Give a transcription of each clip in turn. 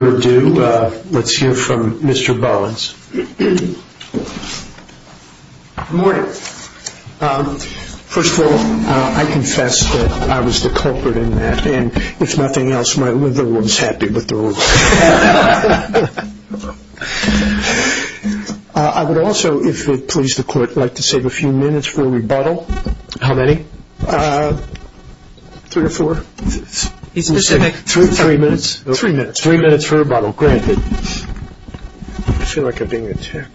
Let's hear from Mr. Bollins. Good morning. First of all, I confess that I was the culprit in that, and if nothing else, my liver was happy with the rule. I would also, if it pleases the court, like to save a few minutes for rebuttal. How many? Three or four? Three minutes. Three minutes. Three minutes for rebuttal, granted. I feel like I'm being attacked.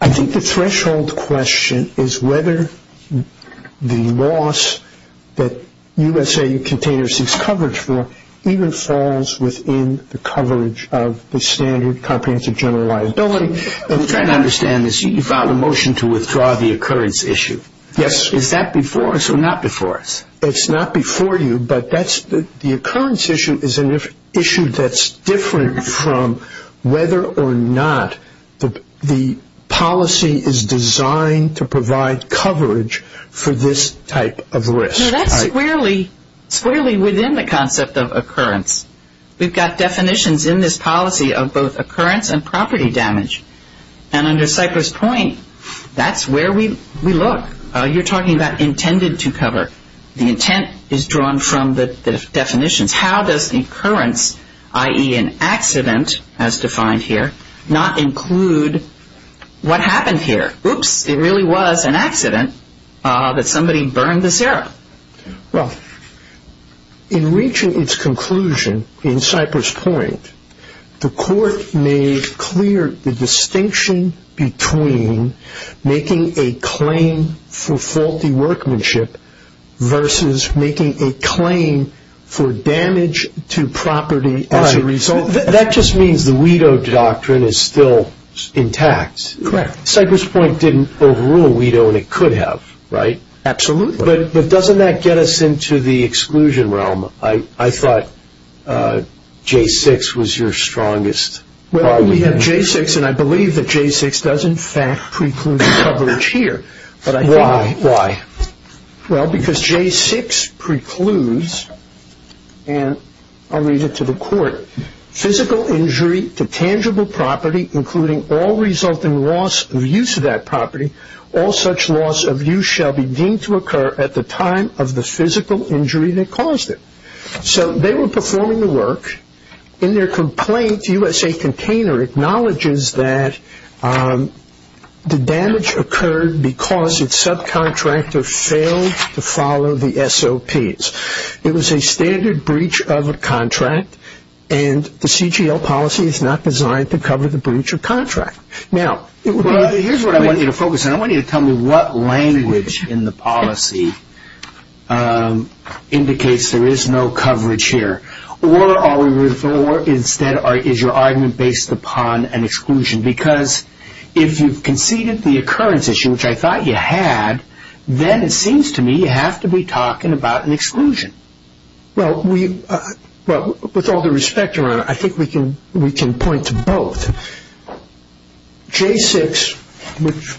I think the threshold question is whether the loss that USA Container seeks coverage for even falls within the coverage of the standard comprehensive general liability. I'm trying to understand this. You filed a motion to withdraw the occurrence issue. Yes. Is that before us or not before us? It's not before you, but the occurrence issue is an issue that's different from whether or not the policy is designed to provide coverage for this type of risk. That's squarely within the concept of occurrence. We've got definitions in this policy of both occurrence and property damage, and under Cypress Point, that's where we look. You're talking about intended to cover. The intent is drawn from the definitions. How does the occurrence, i.e. an accident as defined here, not include what happened here? Oops, it really was an accident that somebody burned the syrup. Well, in reaching its conclusion in Cypress Point, the court made clear the distinction between making a claim for faulty workmanship versus making a claim for damage to property as a result. That just means the widow doctrine is still intact. Correct. Cypress Point didn't overrule a widow, and it could have, right? Absolutely. But doesn't that get us into the exclusion realm? I thought J-6 was your strongest argument. Well, we have J-6, and I believe that J-6 does, in fact, preclude coverage here. Why? Well, because J-6 precludes, and I'll read it to the court. Physical injury to tangible property, including all resulting loss of use of that property, all such loss of use shall be deemed to occur at the time of the physical injury that caused it. So they were performing the work. In their complaint, USA Container acknowledges that the damage occurred because its subcontractor failed to follow the SOPs. It was a standard breach of a contract, and the CGL policy is not designed to cover the breach of contract. Now, here's what I want you to focus on. I want you to tell me what language in the policy indicates there is no coverage here. Or, instead, is your argument based upon an exclusion? Because if you've conceded the occurrence issue, which I thought you had, then it seems to me you have to be talking about an exclusion. Well, with all due respect, Your Honor, I think we can point to both. J-6, which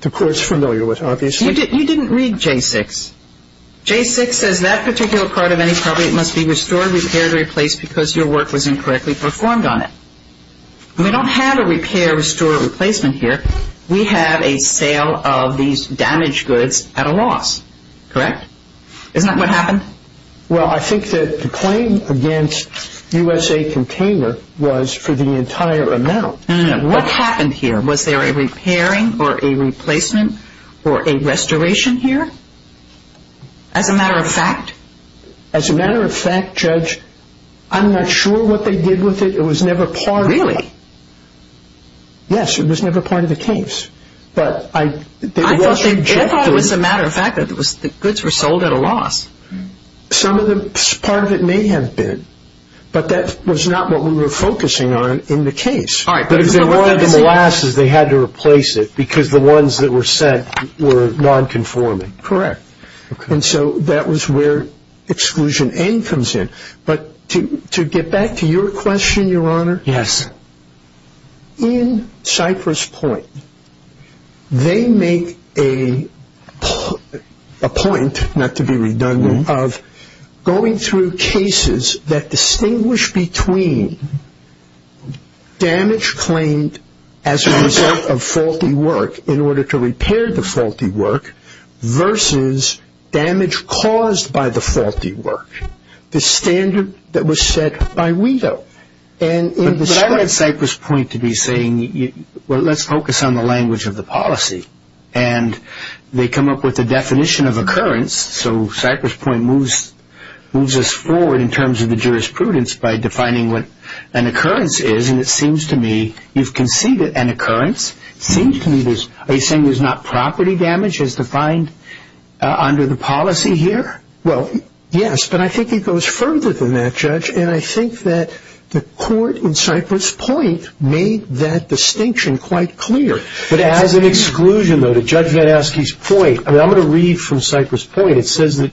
the court's familiar with, obviously. You didn't read J-6. J-6 says that particular part of any property must be restored, repaired, or replaced because your work was incorrectly performed on it. We don't have a repair, restore, or replacement here. We have a sale of these damaged goods at a loss. Correct? Isn't that what happened? Well, I think that the claim against USA Container was for the entire amount. What happened here? Was there a repairing or a replacement or a restoration here? As a matter of fact? As a matter of fact, Judge, I'm not sure what they did with it. It was never part of it. Really? Yes, it was never part of the case. I thought it was a matter of fact that the goods were sold at a loss. Some of them, part of it may have been, but that was not what we were focusing on in the case. All right, but if it were one of the molasses, they had to replace it because the ones that were sent were nonconforming. Correct. And so that was where Exclusion N comes in. But to get back to your question, Your Honor. Yes. In Cypress Point, they make a point, not to be redundant, of going through cases that distinguish between damage claimed as a result of faulty work in order to repair the faulty work versus damage caused by the faulty work, But I read Cypress Point to be saying, well, let's focus on the language of the policy, and they come up with a definition of occurrence, so Cypress Point moves us forward in terms of the jurisprudence by defining what an occurrence is, and it seems to me you've conceded an occurrence. Are you saying there's not property damage as defined under the policy here? Well, yes, but I think it goes further than that, Judge, and I think that the court in Cypress Point made that distinction quite clear. But as an exclusion, though, to Judge VanAskey's point, I'm going to read from Cypress Point. It says that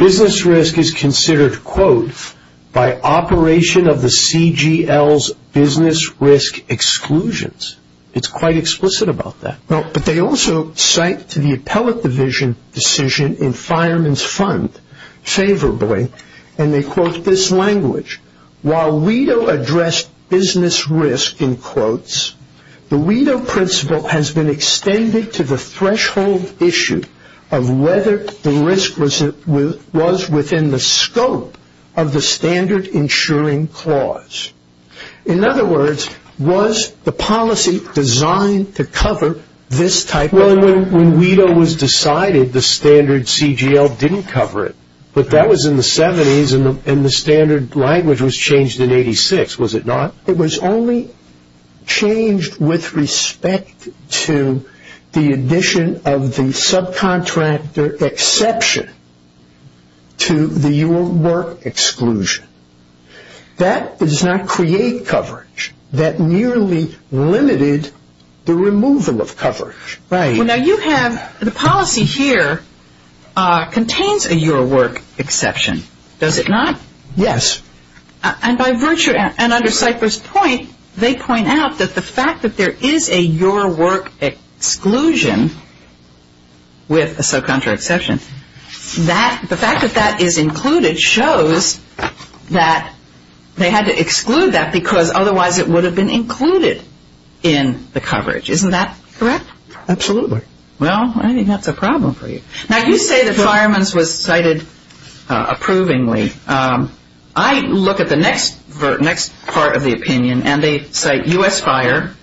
business risk is considered, quote, by operation of the CGL's business risk exclusions. It's quite explicit about that. But they also cite to the Appellate Division decision in Fireman's Fund favorably, and they quote this language. While WIDO addressed business risk, in quotes, the WIDO principle has been extended to the threshold issue of whether the risk was within the scope of the standard insuring clause. In other words, was the policy designed to cover this type of risk? Well, when WIDO was decided, the standard CGL didn't cover it, but that was in the 70s and the standard language was changed in 86, was it not? It was only changed with respect to the addition of the subcontractor exception to the UR work exclusion. That does not create coverage. The policy here contains a UR work exception, does it not? Yes. And by virtue, and under Cypress Point, they point out that the fact that there is a UR work exclusion with a subcontractor exception, the fact that that is included shows that they had to exclude that because otherwise it would have been included in the coverage. Isn't that correct? Absolutely. Well, I think that's a problem for you. Now, you say that Fireman's was cited approvingly. I look at the next part of the opinion, and they cite U.S. Fire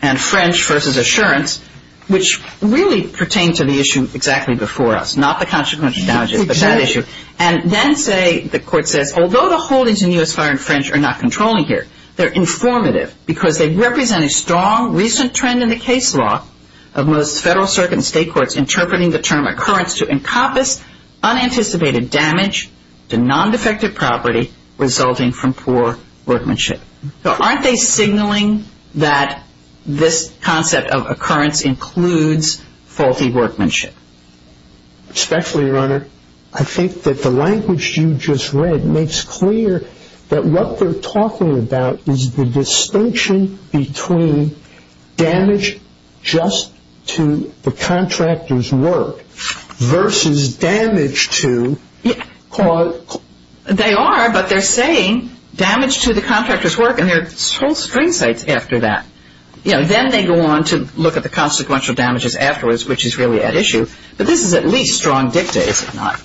and French versus Assurance, which really pertain to the issue exactly before us, not the consequential damages, but that issue. And then say, the court says, although the holdings in U.S. Fire and French are not controlling here, they're informative because they represent a strong, recent trend in the case law of most federal circuit and state courts interpreting the term occurrence to encompass unanticipated damage to non-defective property resulting from poor workmanship. So aren't they signaling that this concept of occurrence includes faulty workmanship? Respectfully, Your Honor, I think that the language you just read makes clear that what they're talking about is the distinction between damage just to the contractor's work versus damage to court. They are, but they're saying damage to the contractor's work, and there are whole string cites after that. Then they go on to look at the consequential damages afterwards, which is really at issue. But this is at least strong dicta, is it not?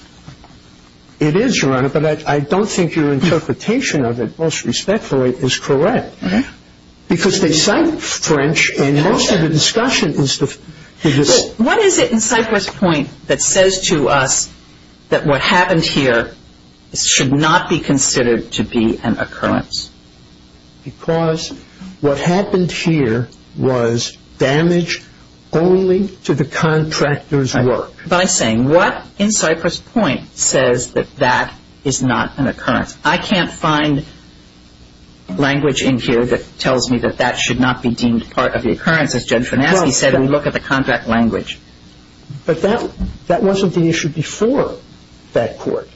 It is, Your Honor, but I don't think your interpretation of it, most respectfully, is correct. Because they cite French, and most of the discussion is the – What is it in Cypress Point that says to us that what happened here should not be considered to be an occurrence? Because what happened here was damage only to the contractor's work. But I'm saying what in Cypress Point says that that is not an occurrence? I can't find language in here that tells me that that should not be deemed part of the occurrence. As Judge Finasci said, we look at the contract language. But that wasn't the issue before that court.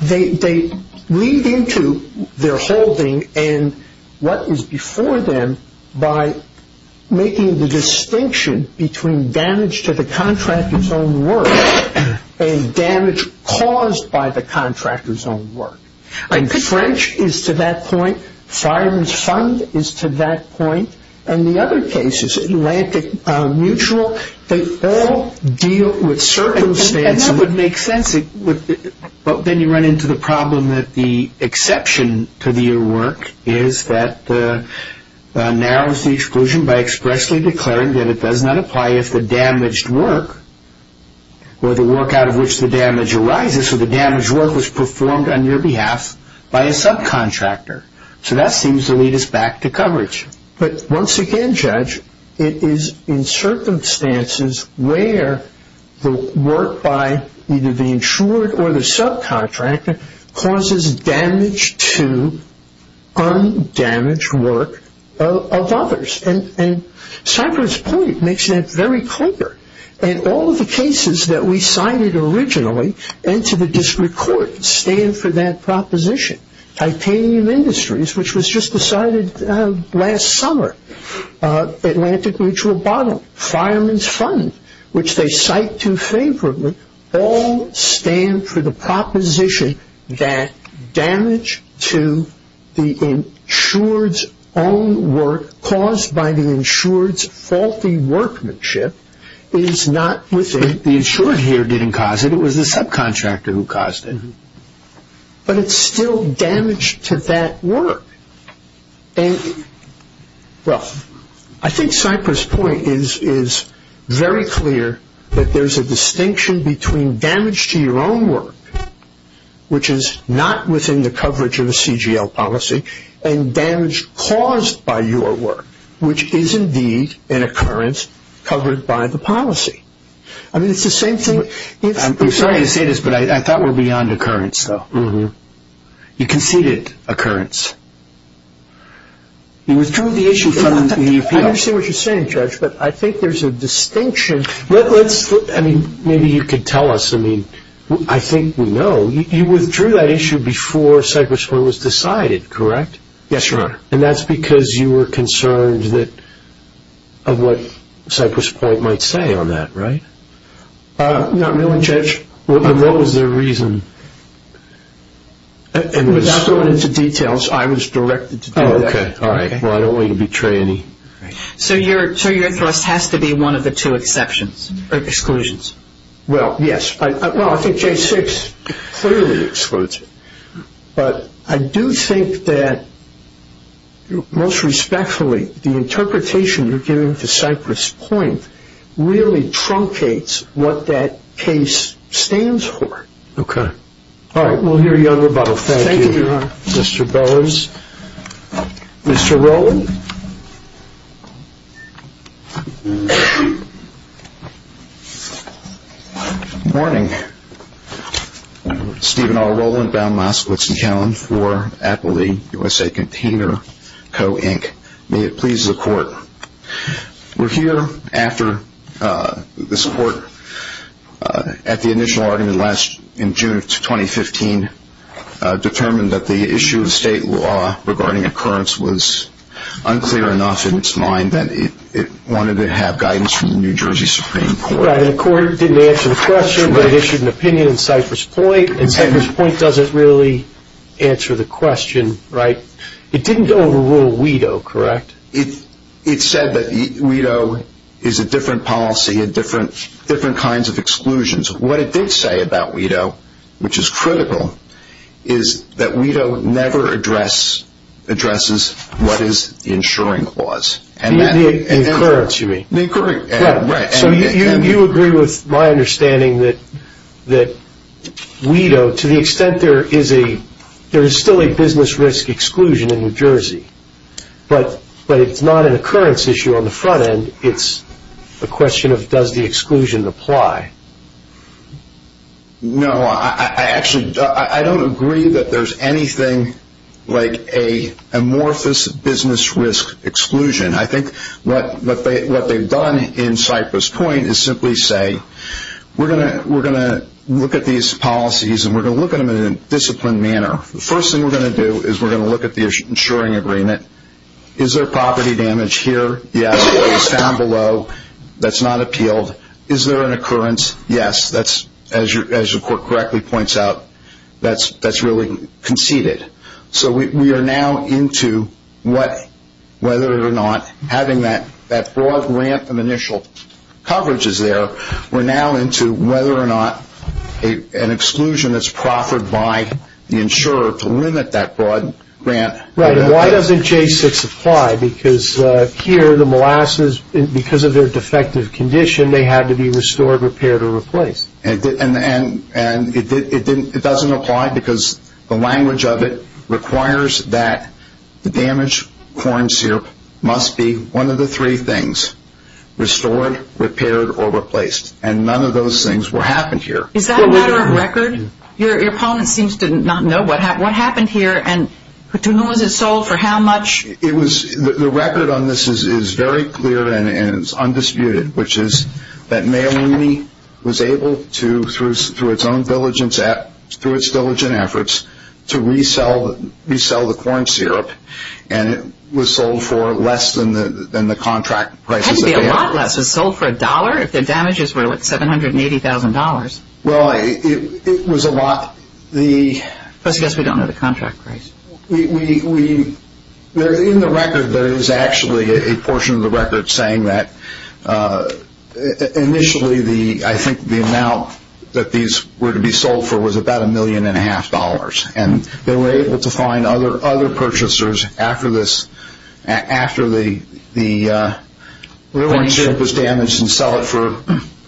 They read into their holding and what was before them by making the distinction between damage to the contractor's own work and damage caused by the contractor's own work. And French is to that point. Fireman's Fund is to that point. And the other case is Atlantic Mutual. They all deal with circumstances. And that would make sense. But then you run into the problem that the exception to the work is that narrows the exclusion by expressly declaring that it does not apply if the damaged work or the work out of which the damage arises or the damaged work was performed on your behalf by a subcontractor. So that seems to lead us back to coverage. But once again, Judge, it is in circumstances where the work by either the insured or the subcontractor causes damage to undamaged work of others. And Cypress Point makes that very clear. And all of the cases that we cited originally and to the district court stand for that proposition. Titanium Industries, which was just decided last summer, Atlantic Mutual Bottle, Fireman's Fund, which they cite too favorably, all stand for the proposition that damage to the insured's own work caused by the insured's faulty workmanship is not within. The insured here didn't cause it. It was the subcontractor who caused it. But it's still damage to that work. And, well, I think Cypress Point is very clear that there's a distinction between damage to your own work, which is not within the coverage of a CGL policy, and damage caused by your work, which is indeed an occurrence covered by the policy. I mean, it's the same thing. I'm sorry to say this, but I thought we were beyond occurrence, though. You conceded occurrence. You withdrew the issue from the appeal. I understand what you're saying, Judge, but I think there's a distinction. I mean, maybe you could tell us. I mean, I think we know. You withdrew that issue before Cypress Point was decided, correct? Yes, Your Honor. And that's because you were concerned of what Cypress Point might say on that, right? Not really, Judge. And what was their reason? Without going into details, I was directed to do that. Okay, all right. Well, I don't want you to betray any. So your thrust has to be one of the two exceptions, or exclusions. Well, yes. Well, I think J6 clearly excludes it. But I do think that, most respectfully, the interpretation you're giving to Cypress Point really truncates what that case stands for. Okay. All right. We'll hear you on rebuttal. Thank you, Your Honor. Thank you, Mr. Bowers. Mr. Rowland? Good morning. Stephen R. Rowland, Bound, Moss, Glitzen, Callum for Appleby USA Container Co., Inc. May it please the Court. We're here after this Court, at the initial argument in June of 2015, determined that the issue of state law regarding occurrence was unclear enough in its mind that it wanted to have guidance from the New Jersey Supreme Court. Right, and the Court didn't answer the question, but it issued an opinion in Cypress Point. And Cypress Point doesn't really answer the question, right? It didn't overrule WIDO, correct? It said that WIDO is a different policy and different kinds of exclusions. What it did say about WIDO, which is critical, is that WIDO never addresses what is the insuring clause. The occurrence, you mean? The occurrence, right. So you agree with my understanding that WIDO, to the extent there is still a business risk exclusion in New Jersey, but it's not an occurrence issue on the front end. It's a question of does the exclusion apply? No, I actually don't agree that there's anything like an amorphous business risk exclusion. I think what they've done in Cypress Point is simply say we're going to look at these policies and we're going to look at them in a disciplined manner. The first thing we're going to do is we're going to look at the insuring agreement. Is there property damage here? Yes. What is found below that's not appealed? Is there an occurrence? Yes. As the Court correctly points out, that's really conceded. So we are now into whether or not having that broad grant and initial coverage is there. We're now into whether or not an exclusion is proffered by the insurer to limit that broad grant. Right, and why doesn't J6 apply? Because here the molasses, because of their defective condition, they had to be restored, repaired, or replaced. And it doesn't apply because the language of it requires that the damaged corn syrup must be one of the three things, restored, repaired, or replaced. And none of those things happened here. Is that a matter of record? Your opponent seems to not know what happened here and to whom was it sold, for how much? The record on this is very clear and it's undisputed, which is that Mayo Uni was able to, through its own diligence, through its diligent efforts, to resell the corn syrup and it was sold for less than the contract prices. It had to be a lot less. It was sold for a dollar if the damages were $780,000. Well, it was a lot. I guess we don't know the contract price. In the record, there is actually a portion of the record saying that initially, I think the amount that these were to be sold for was about a million and a half dollars, and they were able to find other purchasers after the corn syrup was damaged and sell it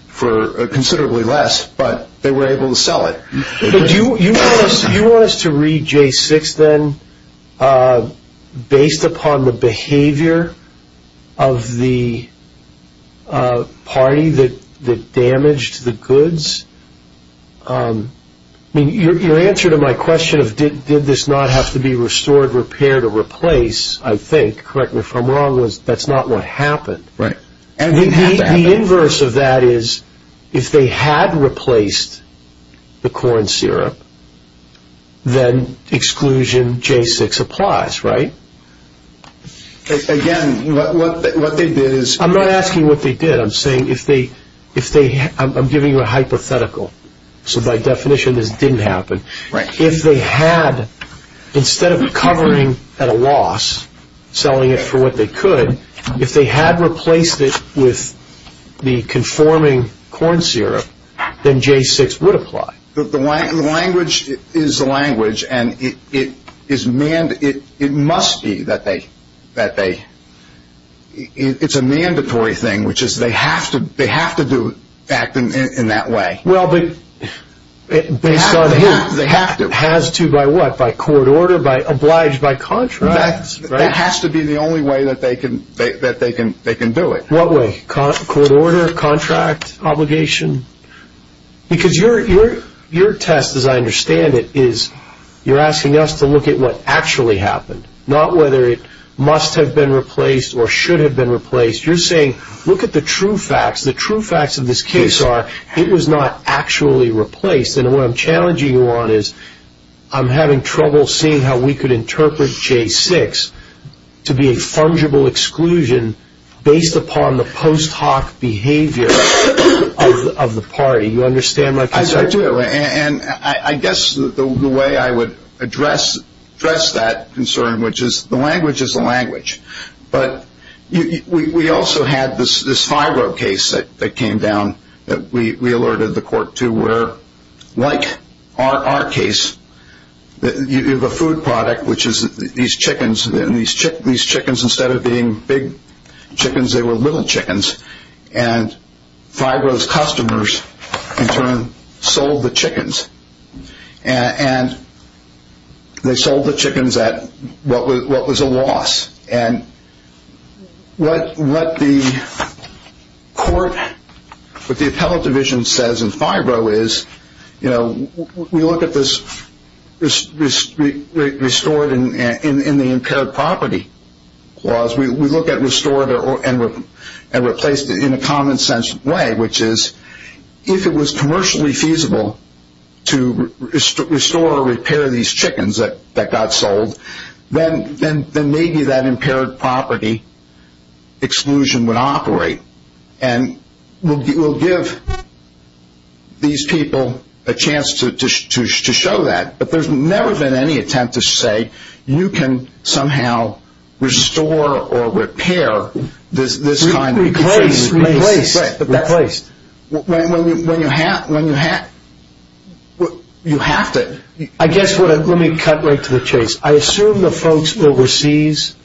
for considerably less, but they were able to sell it. Do you want us to read J6, then, based upon the behavior of the party that damaged the goods? Your answer to my question of did this not have to be restored, repaired, or replaced, I think, correct me if I'm wrong, that's not what happened. Right. The inverse of that is if they had replaced the corn syrup, then exclusion J6 applies, right? Again, what they did is – I'm not asking what they did. I'm saying if they – I'm giving you a hypothetical. So by definition, this didn't happen. If they had, instead of covering at a loss, selling it for what they could, and if they had replaced it with the conforming corn syrup, then J6 would apply. The language is the language, and it must be that they – it's a mandatory thing, which is they have to act in that way. Well, but based on who? They have to. Has to by what? By court order? By – obliged by contracts? That has to be the only way that they can do it. What way? Court order? Contract? Obligation? Because your test, as I understand it, is you're asking us to look at what actually happened, not whether it must have been replaced or should have been replaced. You're saying look at the true facts. The true facts of this case are it was not actually replaced, and what I'm challenging you on is I'm having trouble seeing how we could interpret J6 to be a fungible exclusion based upon the post hoc behavior of the party. You understand my concern? I do, and I guess the way I would address that concern, which is the language is the language, but we also had this FIRO case that came down that we alerted the court to where, like our case, you have a food product, which is these chickens, and these chickens, instead of being big chickens, they were little chickens, and FIRO's customers in turn sold the chickens, and they sold the chickens at what was a loss, and what the court, what the appellate division says in FIRO is, you know, we look at this restored in the impaired property clause. We look at restored and replaced in a common sense way, which is if it was commercially feasible to restore or repair these chickens that got sold, then maybe that impaired property exclusion would operate, and we'll give these people a chance to show that, but there's never been any attempt to say you can somehow restore or repair this kind of thing. Replaced. When you have to. I guess, let me cut right to the chase. I assume the folks overseas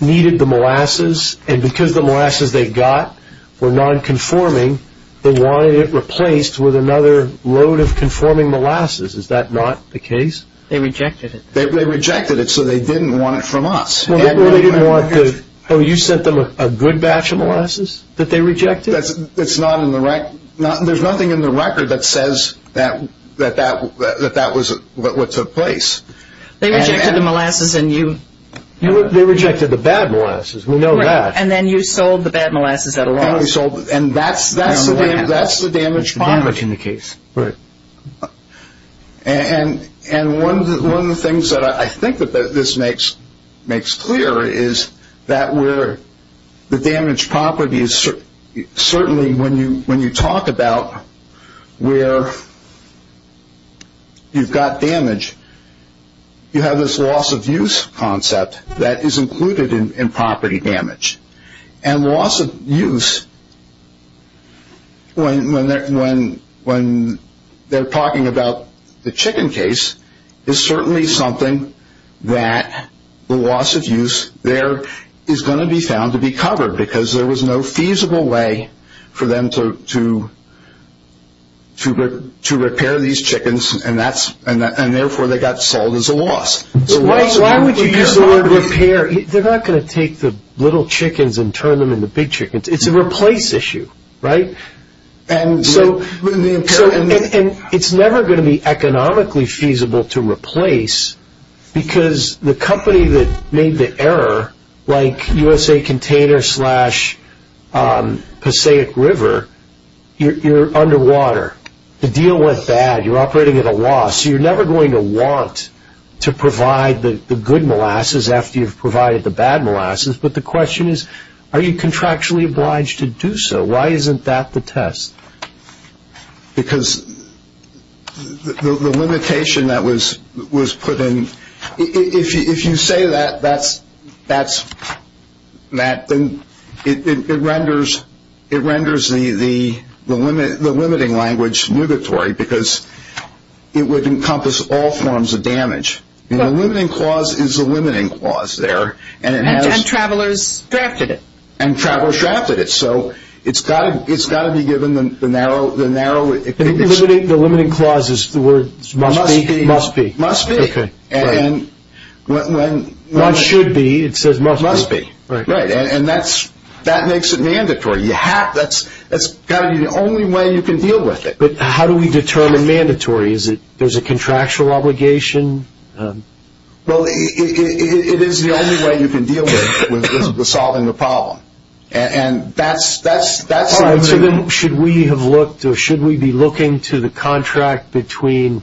needed the molasses, and because the molasses they got were non-conforming, they wanted it replaced with another load of conforming molasses. Is that not the case? They rejected it. They rejected it, so they didn't want it from us. Oh, you sent them a good batch of molasses that they rejected? There's nothing in the record that says that that was what took place. They rejected the molasses, and you. They rejected the bad molasses. We know that. Right, and then you sold the bad molasses at a loss. And that's the damaged property. Damaged in the case. Right. And one of the things that I think that this makes clear is that where the damaged property is certainly, when you talk about where you've got damage, you have this loss of use concept that is included in property damage. And loss of use, when they're talking about the chicken case, is certainly something that the loss of use there is going to be found to be covered, because there was no feasible way for them to repair these chickens, and therefore they got sold as a loss. Why would you use the word repair? They're not going to take the little chickens and turn them into big chickens. It's a replace issue, right? And it's never going to be economically feasible to replace, because the company that made the error, like USA Container slash Passaic River, you're underwater. The deal went bad. You're operating at a loss. So you're never going to want to provide the good molasses after you've provided the bad molasses, but the question is, are you contractually obliged to do so? Why isn't that the test? Because the limitation that was put in, if you say that, it renders the limiting language negatory, because it would encompass all forms of damage. The limiting clause is the limiting clause there. And travelers drafted it. And travelers drafted it. So it's got to be given the narrow... The limiting clause is the word must be? Must be. Must be. Okay. And when... One should be. It says must be. Must be. Right. And that makes it mandatory. That's got to be the only way you can deal with it. But how do we determine mandatory? Is it there's a contractual obligation? Well, it is the only way you can deal with solving the problem. And that's... Then should we have looked or should we be looking to the contract between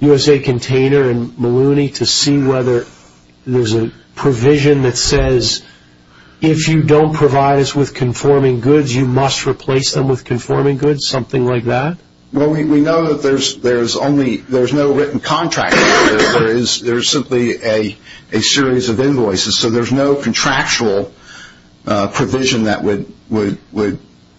USA Container and Malooney to see whether there's a provision that says, if you don't provide us with conforming goods, you must replace them with conforming goods, something like that? Well, we know that there's no written contract. There is simply a series of invoices. So there's no contractual provision that would...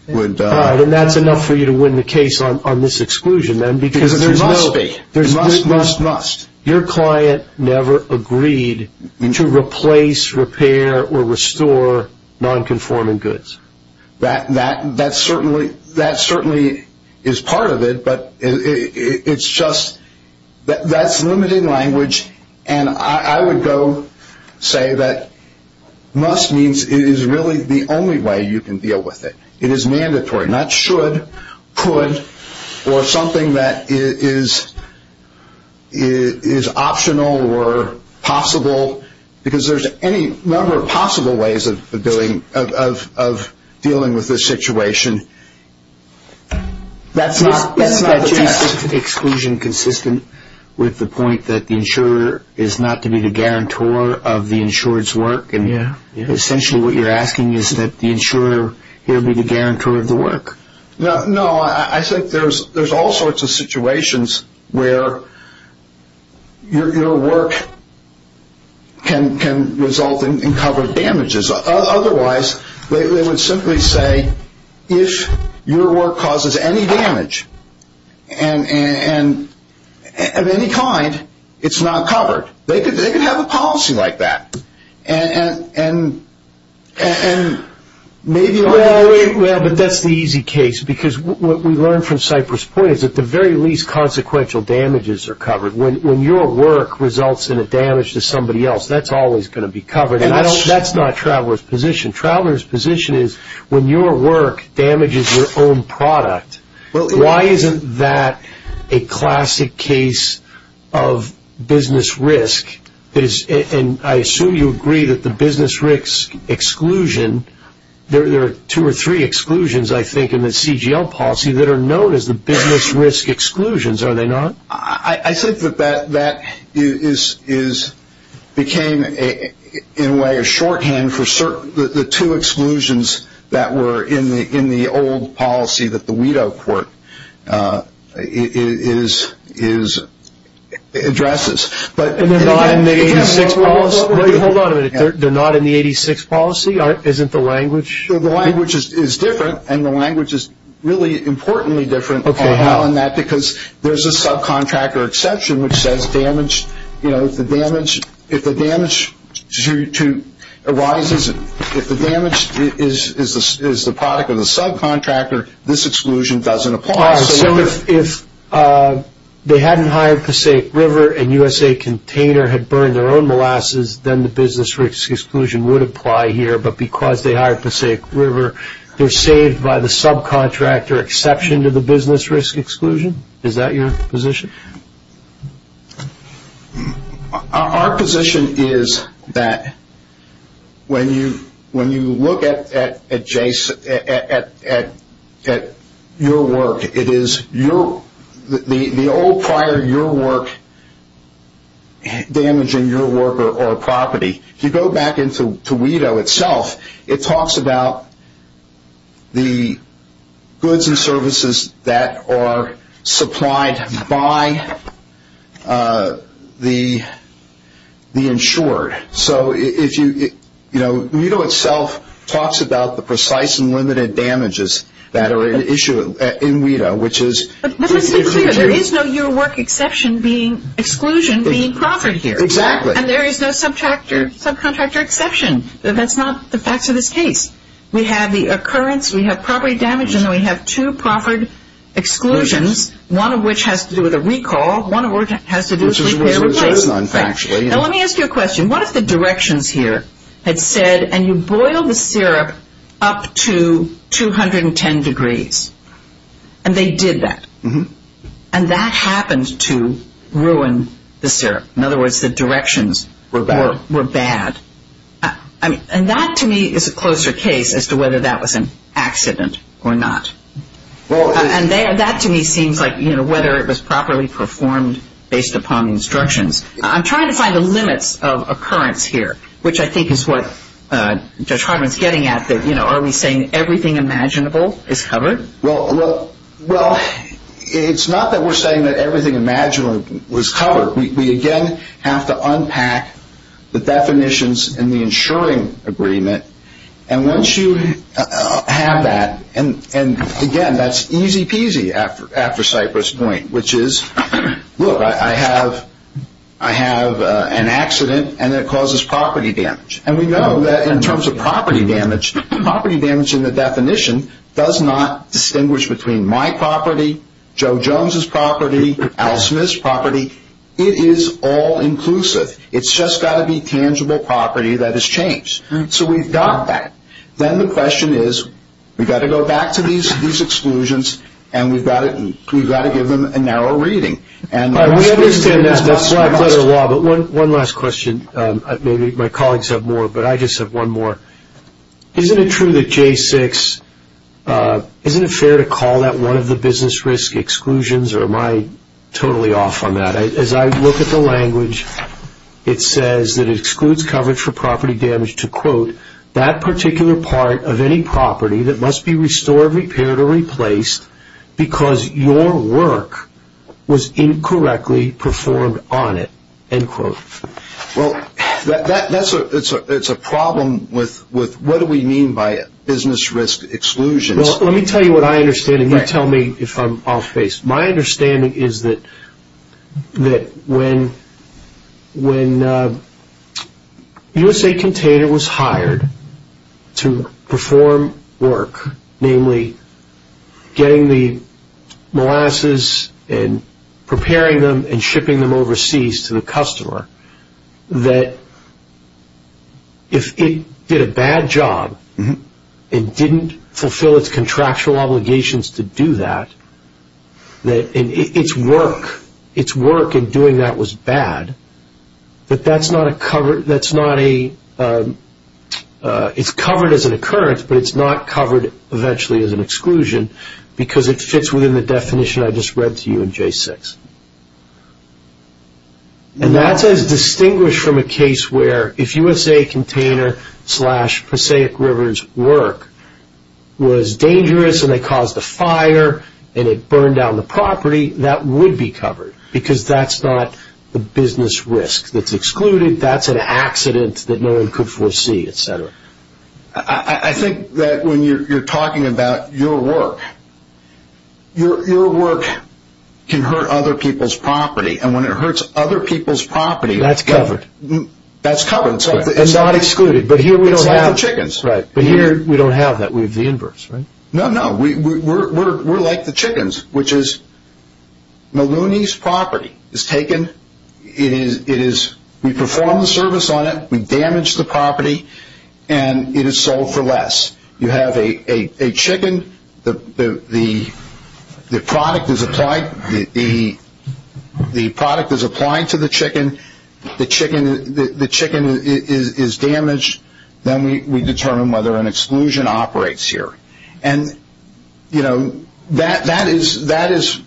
All right. And that's enough for you to win the case on this exclusion, then, because there's no... There must be. There must, must, must. Your client never agreed to replace, repair, or restore nonconforming goods. That certainly is part of it, but it's just... And I would go say that must means it is really the only way you can deal with it. It is mandatory, not should, could, or something that is optional or possible, because there's any number of possible ways of dealing with this situation. That's not the case. Is that exclusion consistent with the point that the insurer is not to be the guarantor of the insurer's work? Yeah. Essentially what you're asking is that the insurer here be the guarantor of the work? No. I think there's all sorts of situations where your work can result in covered damages. Otherwise, they would simply say, if your work causes any damage of any kind, it's not covered. They could have a policy like that, and maybe... Well, but that's the easy case, because what we learned from Cypress Point is that the very least consequential damages are covered. When your work results in a damage to somebody else, that's always going to be covered. That's not a traveler's position. A traveler's position is, when your work damages your own product, why isn't that a classic case of business risk? And I assume you agree that the business risk exclusion, there are two or three exclusions, I think, in the CGL policy that are known as the business risk exclusions, are they not? I think that that became, in a way, a shorthand for the two exclusions that were in the old policy that the WIDO court addresses. And they're not in the 86 policy? Wait, hold on a minute. They're not in the 86 policy? Isn't the language... The language is different, and the language is really importantly different on that, because there's a subcontractor exception which says if the damage is the product of the subcontractor, this exclusion doesn't apply. So if they hadn't hired Passaic River and USA Container had burned their own molasses, then the business risk exclusion would apply here, but because they hired Passaic River, they're saved by the subcontractor exception to the business risk exclusion? Is that your position? Our position is that when you look at your work, it is the old prior to your work damaging your worker or property. If you go back into WIDO itself, it talks about the goods and services that are supplied by the insured. So WIDO itself talks about the precise and limited damages that are at issue in WIDO, which is... But let's be clear. There is no your work exclusion being proffered here. Exactly. And there is no subcontractor exception. That's not the facts of this case. We have the occurrence, we have property damage, and then we have two proffered exclusions, one of which has to do with a recall, one of which has to do with repair and replace. Which is what it's based on, factually. Now let me ask you a question. What if the directions here had said, and you boil the syrup up to 210 degrees, and they did that, and that happened to ruin the syrup? In other words, the directions were bad. And that to me is a closer case as to whether that was an accident or not. And that to me seems like whether it was properly performed based upon instructions. I'm trying to find the limits of occurrence here, which I think is what Judge Hartman is getting at, that are we saying everything imaginable is covered? Well, it's not that we're saying that everything imaginable was covered. We, again, have to unpack the definitions in the insuring agreement. And once you have that, and, again, that's easy peasy after Cypress Point, which is, look, I have an accident and it causes property damage. And we know that in terms of property damage, property damage in the definition does not distinguish between my property, Joe Jones's property, Al Smith's property. It is all inclusive. It's just got to be tangible property that has changed. So we've got that. Then the question is, we've got to go back to these exclusions, and we've got to give them a narrow reading. All right, we understand that. That's why I play the law. But one last question. Maybe my colleagues have more, but I just have one more. Isn't it true that J6, isn't it fair to call that one of the business risk exclusions, or am I totally off on that? As I look at the language, it says that it excludes coverage for property damage to, quote, that particular part of any property that must be restored, repaired, or replaced because your work was incorrectly performed on it, end quote. Well, it's a problem with what do we mean by business risk exclusions. Well, let me tell you what I understand, and you tell me if I'm off base. My understanding is that when USA Container was hired to perform work, namely getting the molasses and preparing them and shipping them overseas to the customer, that if it did a bad job and didn't fulfill its contractual obligations to do that, that its work in doing that was bad, that it's covered as an occurrence, but it's not covered eventually as an exclusion because it fits within the definition I just read to you in J6. And that's as distinguished from a case where if USA Container slash Passaic River's work was dangerous and they caused a fire and it burned down the property, that would be covered because that's not the business risk that's excluded. That's an accident that no one could foresee, et cetera. I think that when you're talking about your work, your work can hurt other people's property, and when it hurts other people's property, that's covered. It's not excluded, but here we don't have that. It's like the chickens. Right, but here we don't have that. We have the inverse, right? No, no, we're like the chickens, which is Maloney's property is taken, we perform the service on it, we damage the property, and it is sold for less. You have a chicken, the product is applied to the chicken, the chicken is damaged, then we determine whether an exclusion operates here. And, you know, that is,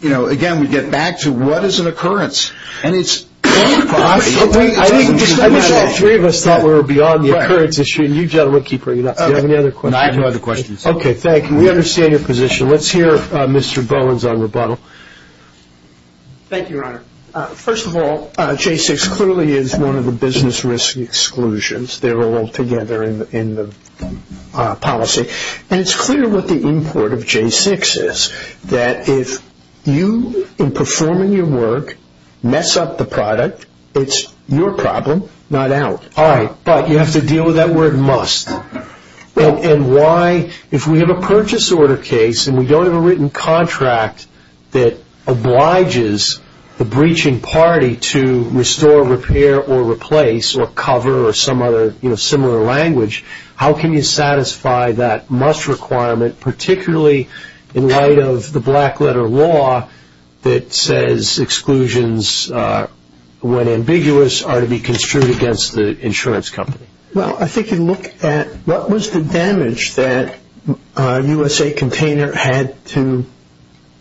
you know, again, we get back to what is an occurrence, and it's... I wish all three of us thought we were beyond the occurrence issue, and you gentlemen keep bringing it up. Do you have any other questions? I have no other questions. Okay, thank you. We understand your position. Let's hear Mr. Bowen's own rebuttal. Thank you, Your Honor. First of all, J6 clearly is one of the business risk exclusions. They're all together in the policy. And it's clear what the import of J6 is, that if you, in performing your work, mess up the product, it's your problem, not ours. All right, but you have to deal with that word must. And why, if we have a purchase order case and we don't have a written contract that obliges the breaching party to restore, repair, or replace, or cover, or some other, you know, similar language, how can you satisfy that must requirement, particularly in light of the black letter law that says exclusions, when ambiguous, are to be construed against the insurance company? Well, I think you look at what was the damage that USA Container had to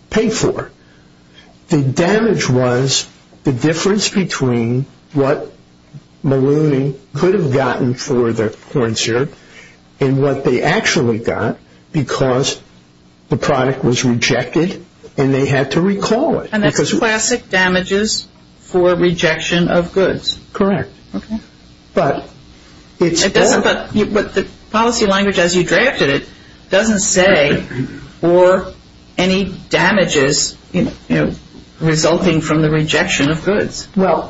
pay for. The damage was the difference between what Maloney could have gotten for the corn syrup and what they actually got because the product was rejected and they had to recall it. And that's classic damages for rejection of goods. Correct. Okay. But it's all- But the policy language, as you drafted it, doesn't say, or any damages, you know, resulting from the rejection of goods. Well,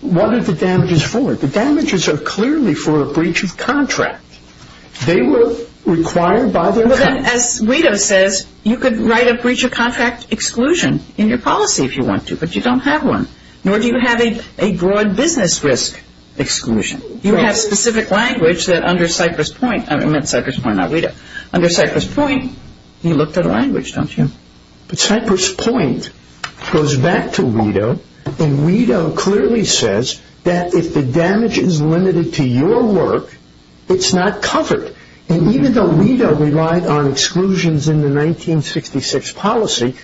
what are the damages for? The damages are clearly for a breach of contract. They were required by the- As Guido says, you could write a breach of contract exclusion in your policy if you want to, but you don't have one, nor do you have a broad business risk exclusion. You have specific language that under Cypress Point-I meant Cypress Point, not Guido. Under Cypress Point, you looked at a language, don't you? But Cypress Point goes back to Guido, and Guido clearly says that if the damage is limited to your work, it's not covered. And even though Guido relied on exclusions in the 1966 policy,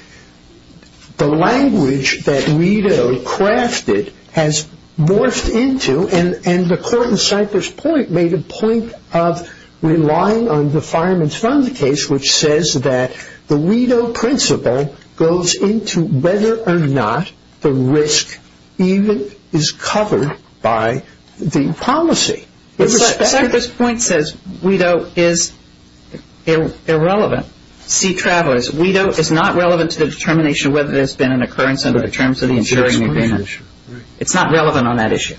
the language that Guido crafted has morphed into, and the court in Cypress Point made a point of relying on the fireman's fund case, which says that the Guido principle goes into whether or not the risk even is covered by the policy. Cypress Point says Guido is irrelevant. See, Travers, Guido is not relevant to the determination whether there's been an occurrence under the terms of the insuring agreement. It's not relevant on that issue.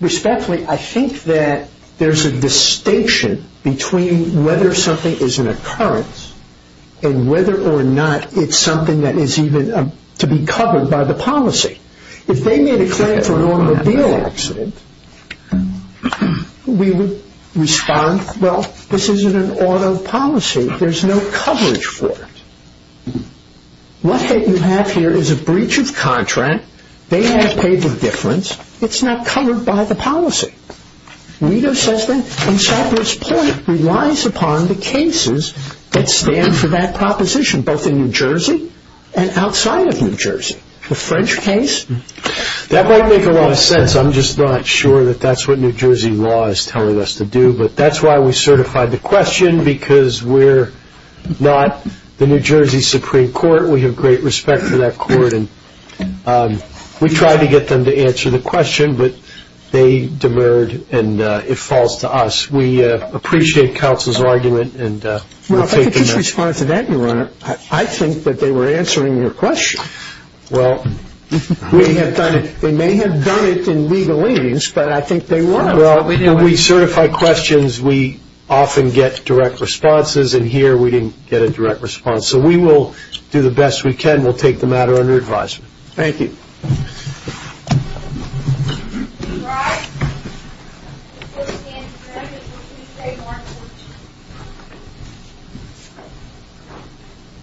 Respectfully, I think that there's a distinction between whether something is an occurrence and whether or not it's something that is even to be covered by the policy. If they made a claim for an automobile accident, we would respond, well, this isn't an auto policy. There's no coverage for it. What you have here is a breach of contract. They have paid the difference. It's not covered by the policy. Guido says that Cypress Point relies upon the cases that stand for that proposition, both in New Jersey and outside of New Jersey. The French case? That might make a lot of sense. I'm just not sure that that's what New Jersey law is telling us to do. But that's why we certified the question, because we're not the New Jersey Supreme Court. We have great respect for that court. We tried to get them to answer the question, but they demurred, and it falls to us. We appreciate counsel's argument. Well, if I could just respond to that, Your Honor, I think that they were answering your question. Well, we have done it. They may have done it in legal aidings, but I think they were. Well, when we certify questions, we often get direct responses, and here we didn't get a direct response. So we will do the best we can. We'll take the matter under advisement. Thank you. All rise. Please stand to be recognized and please stay in your seats.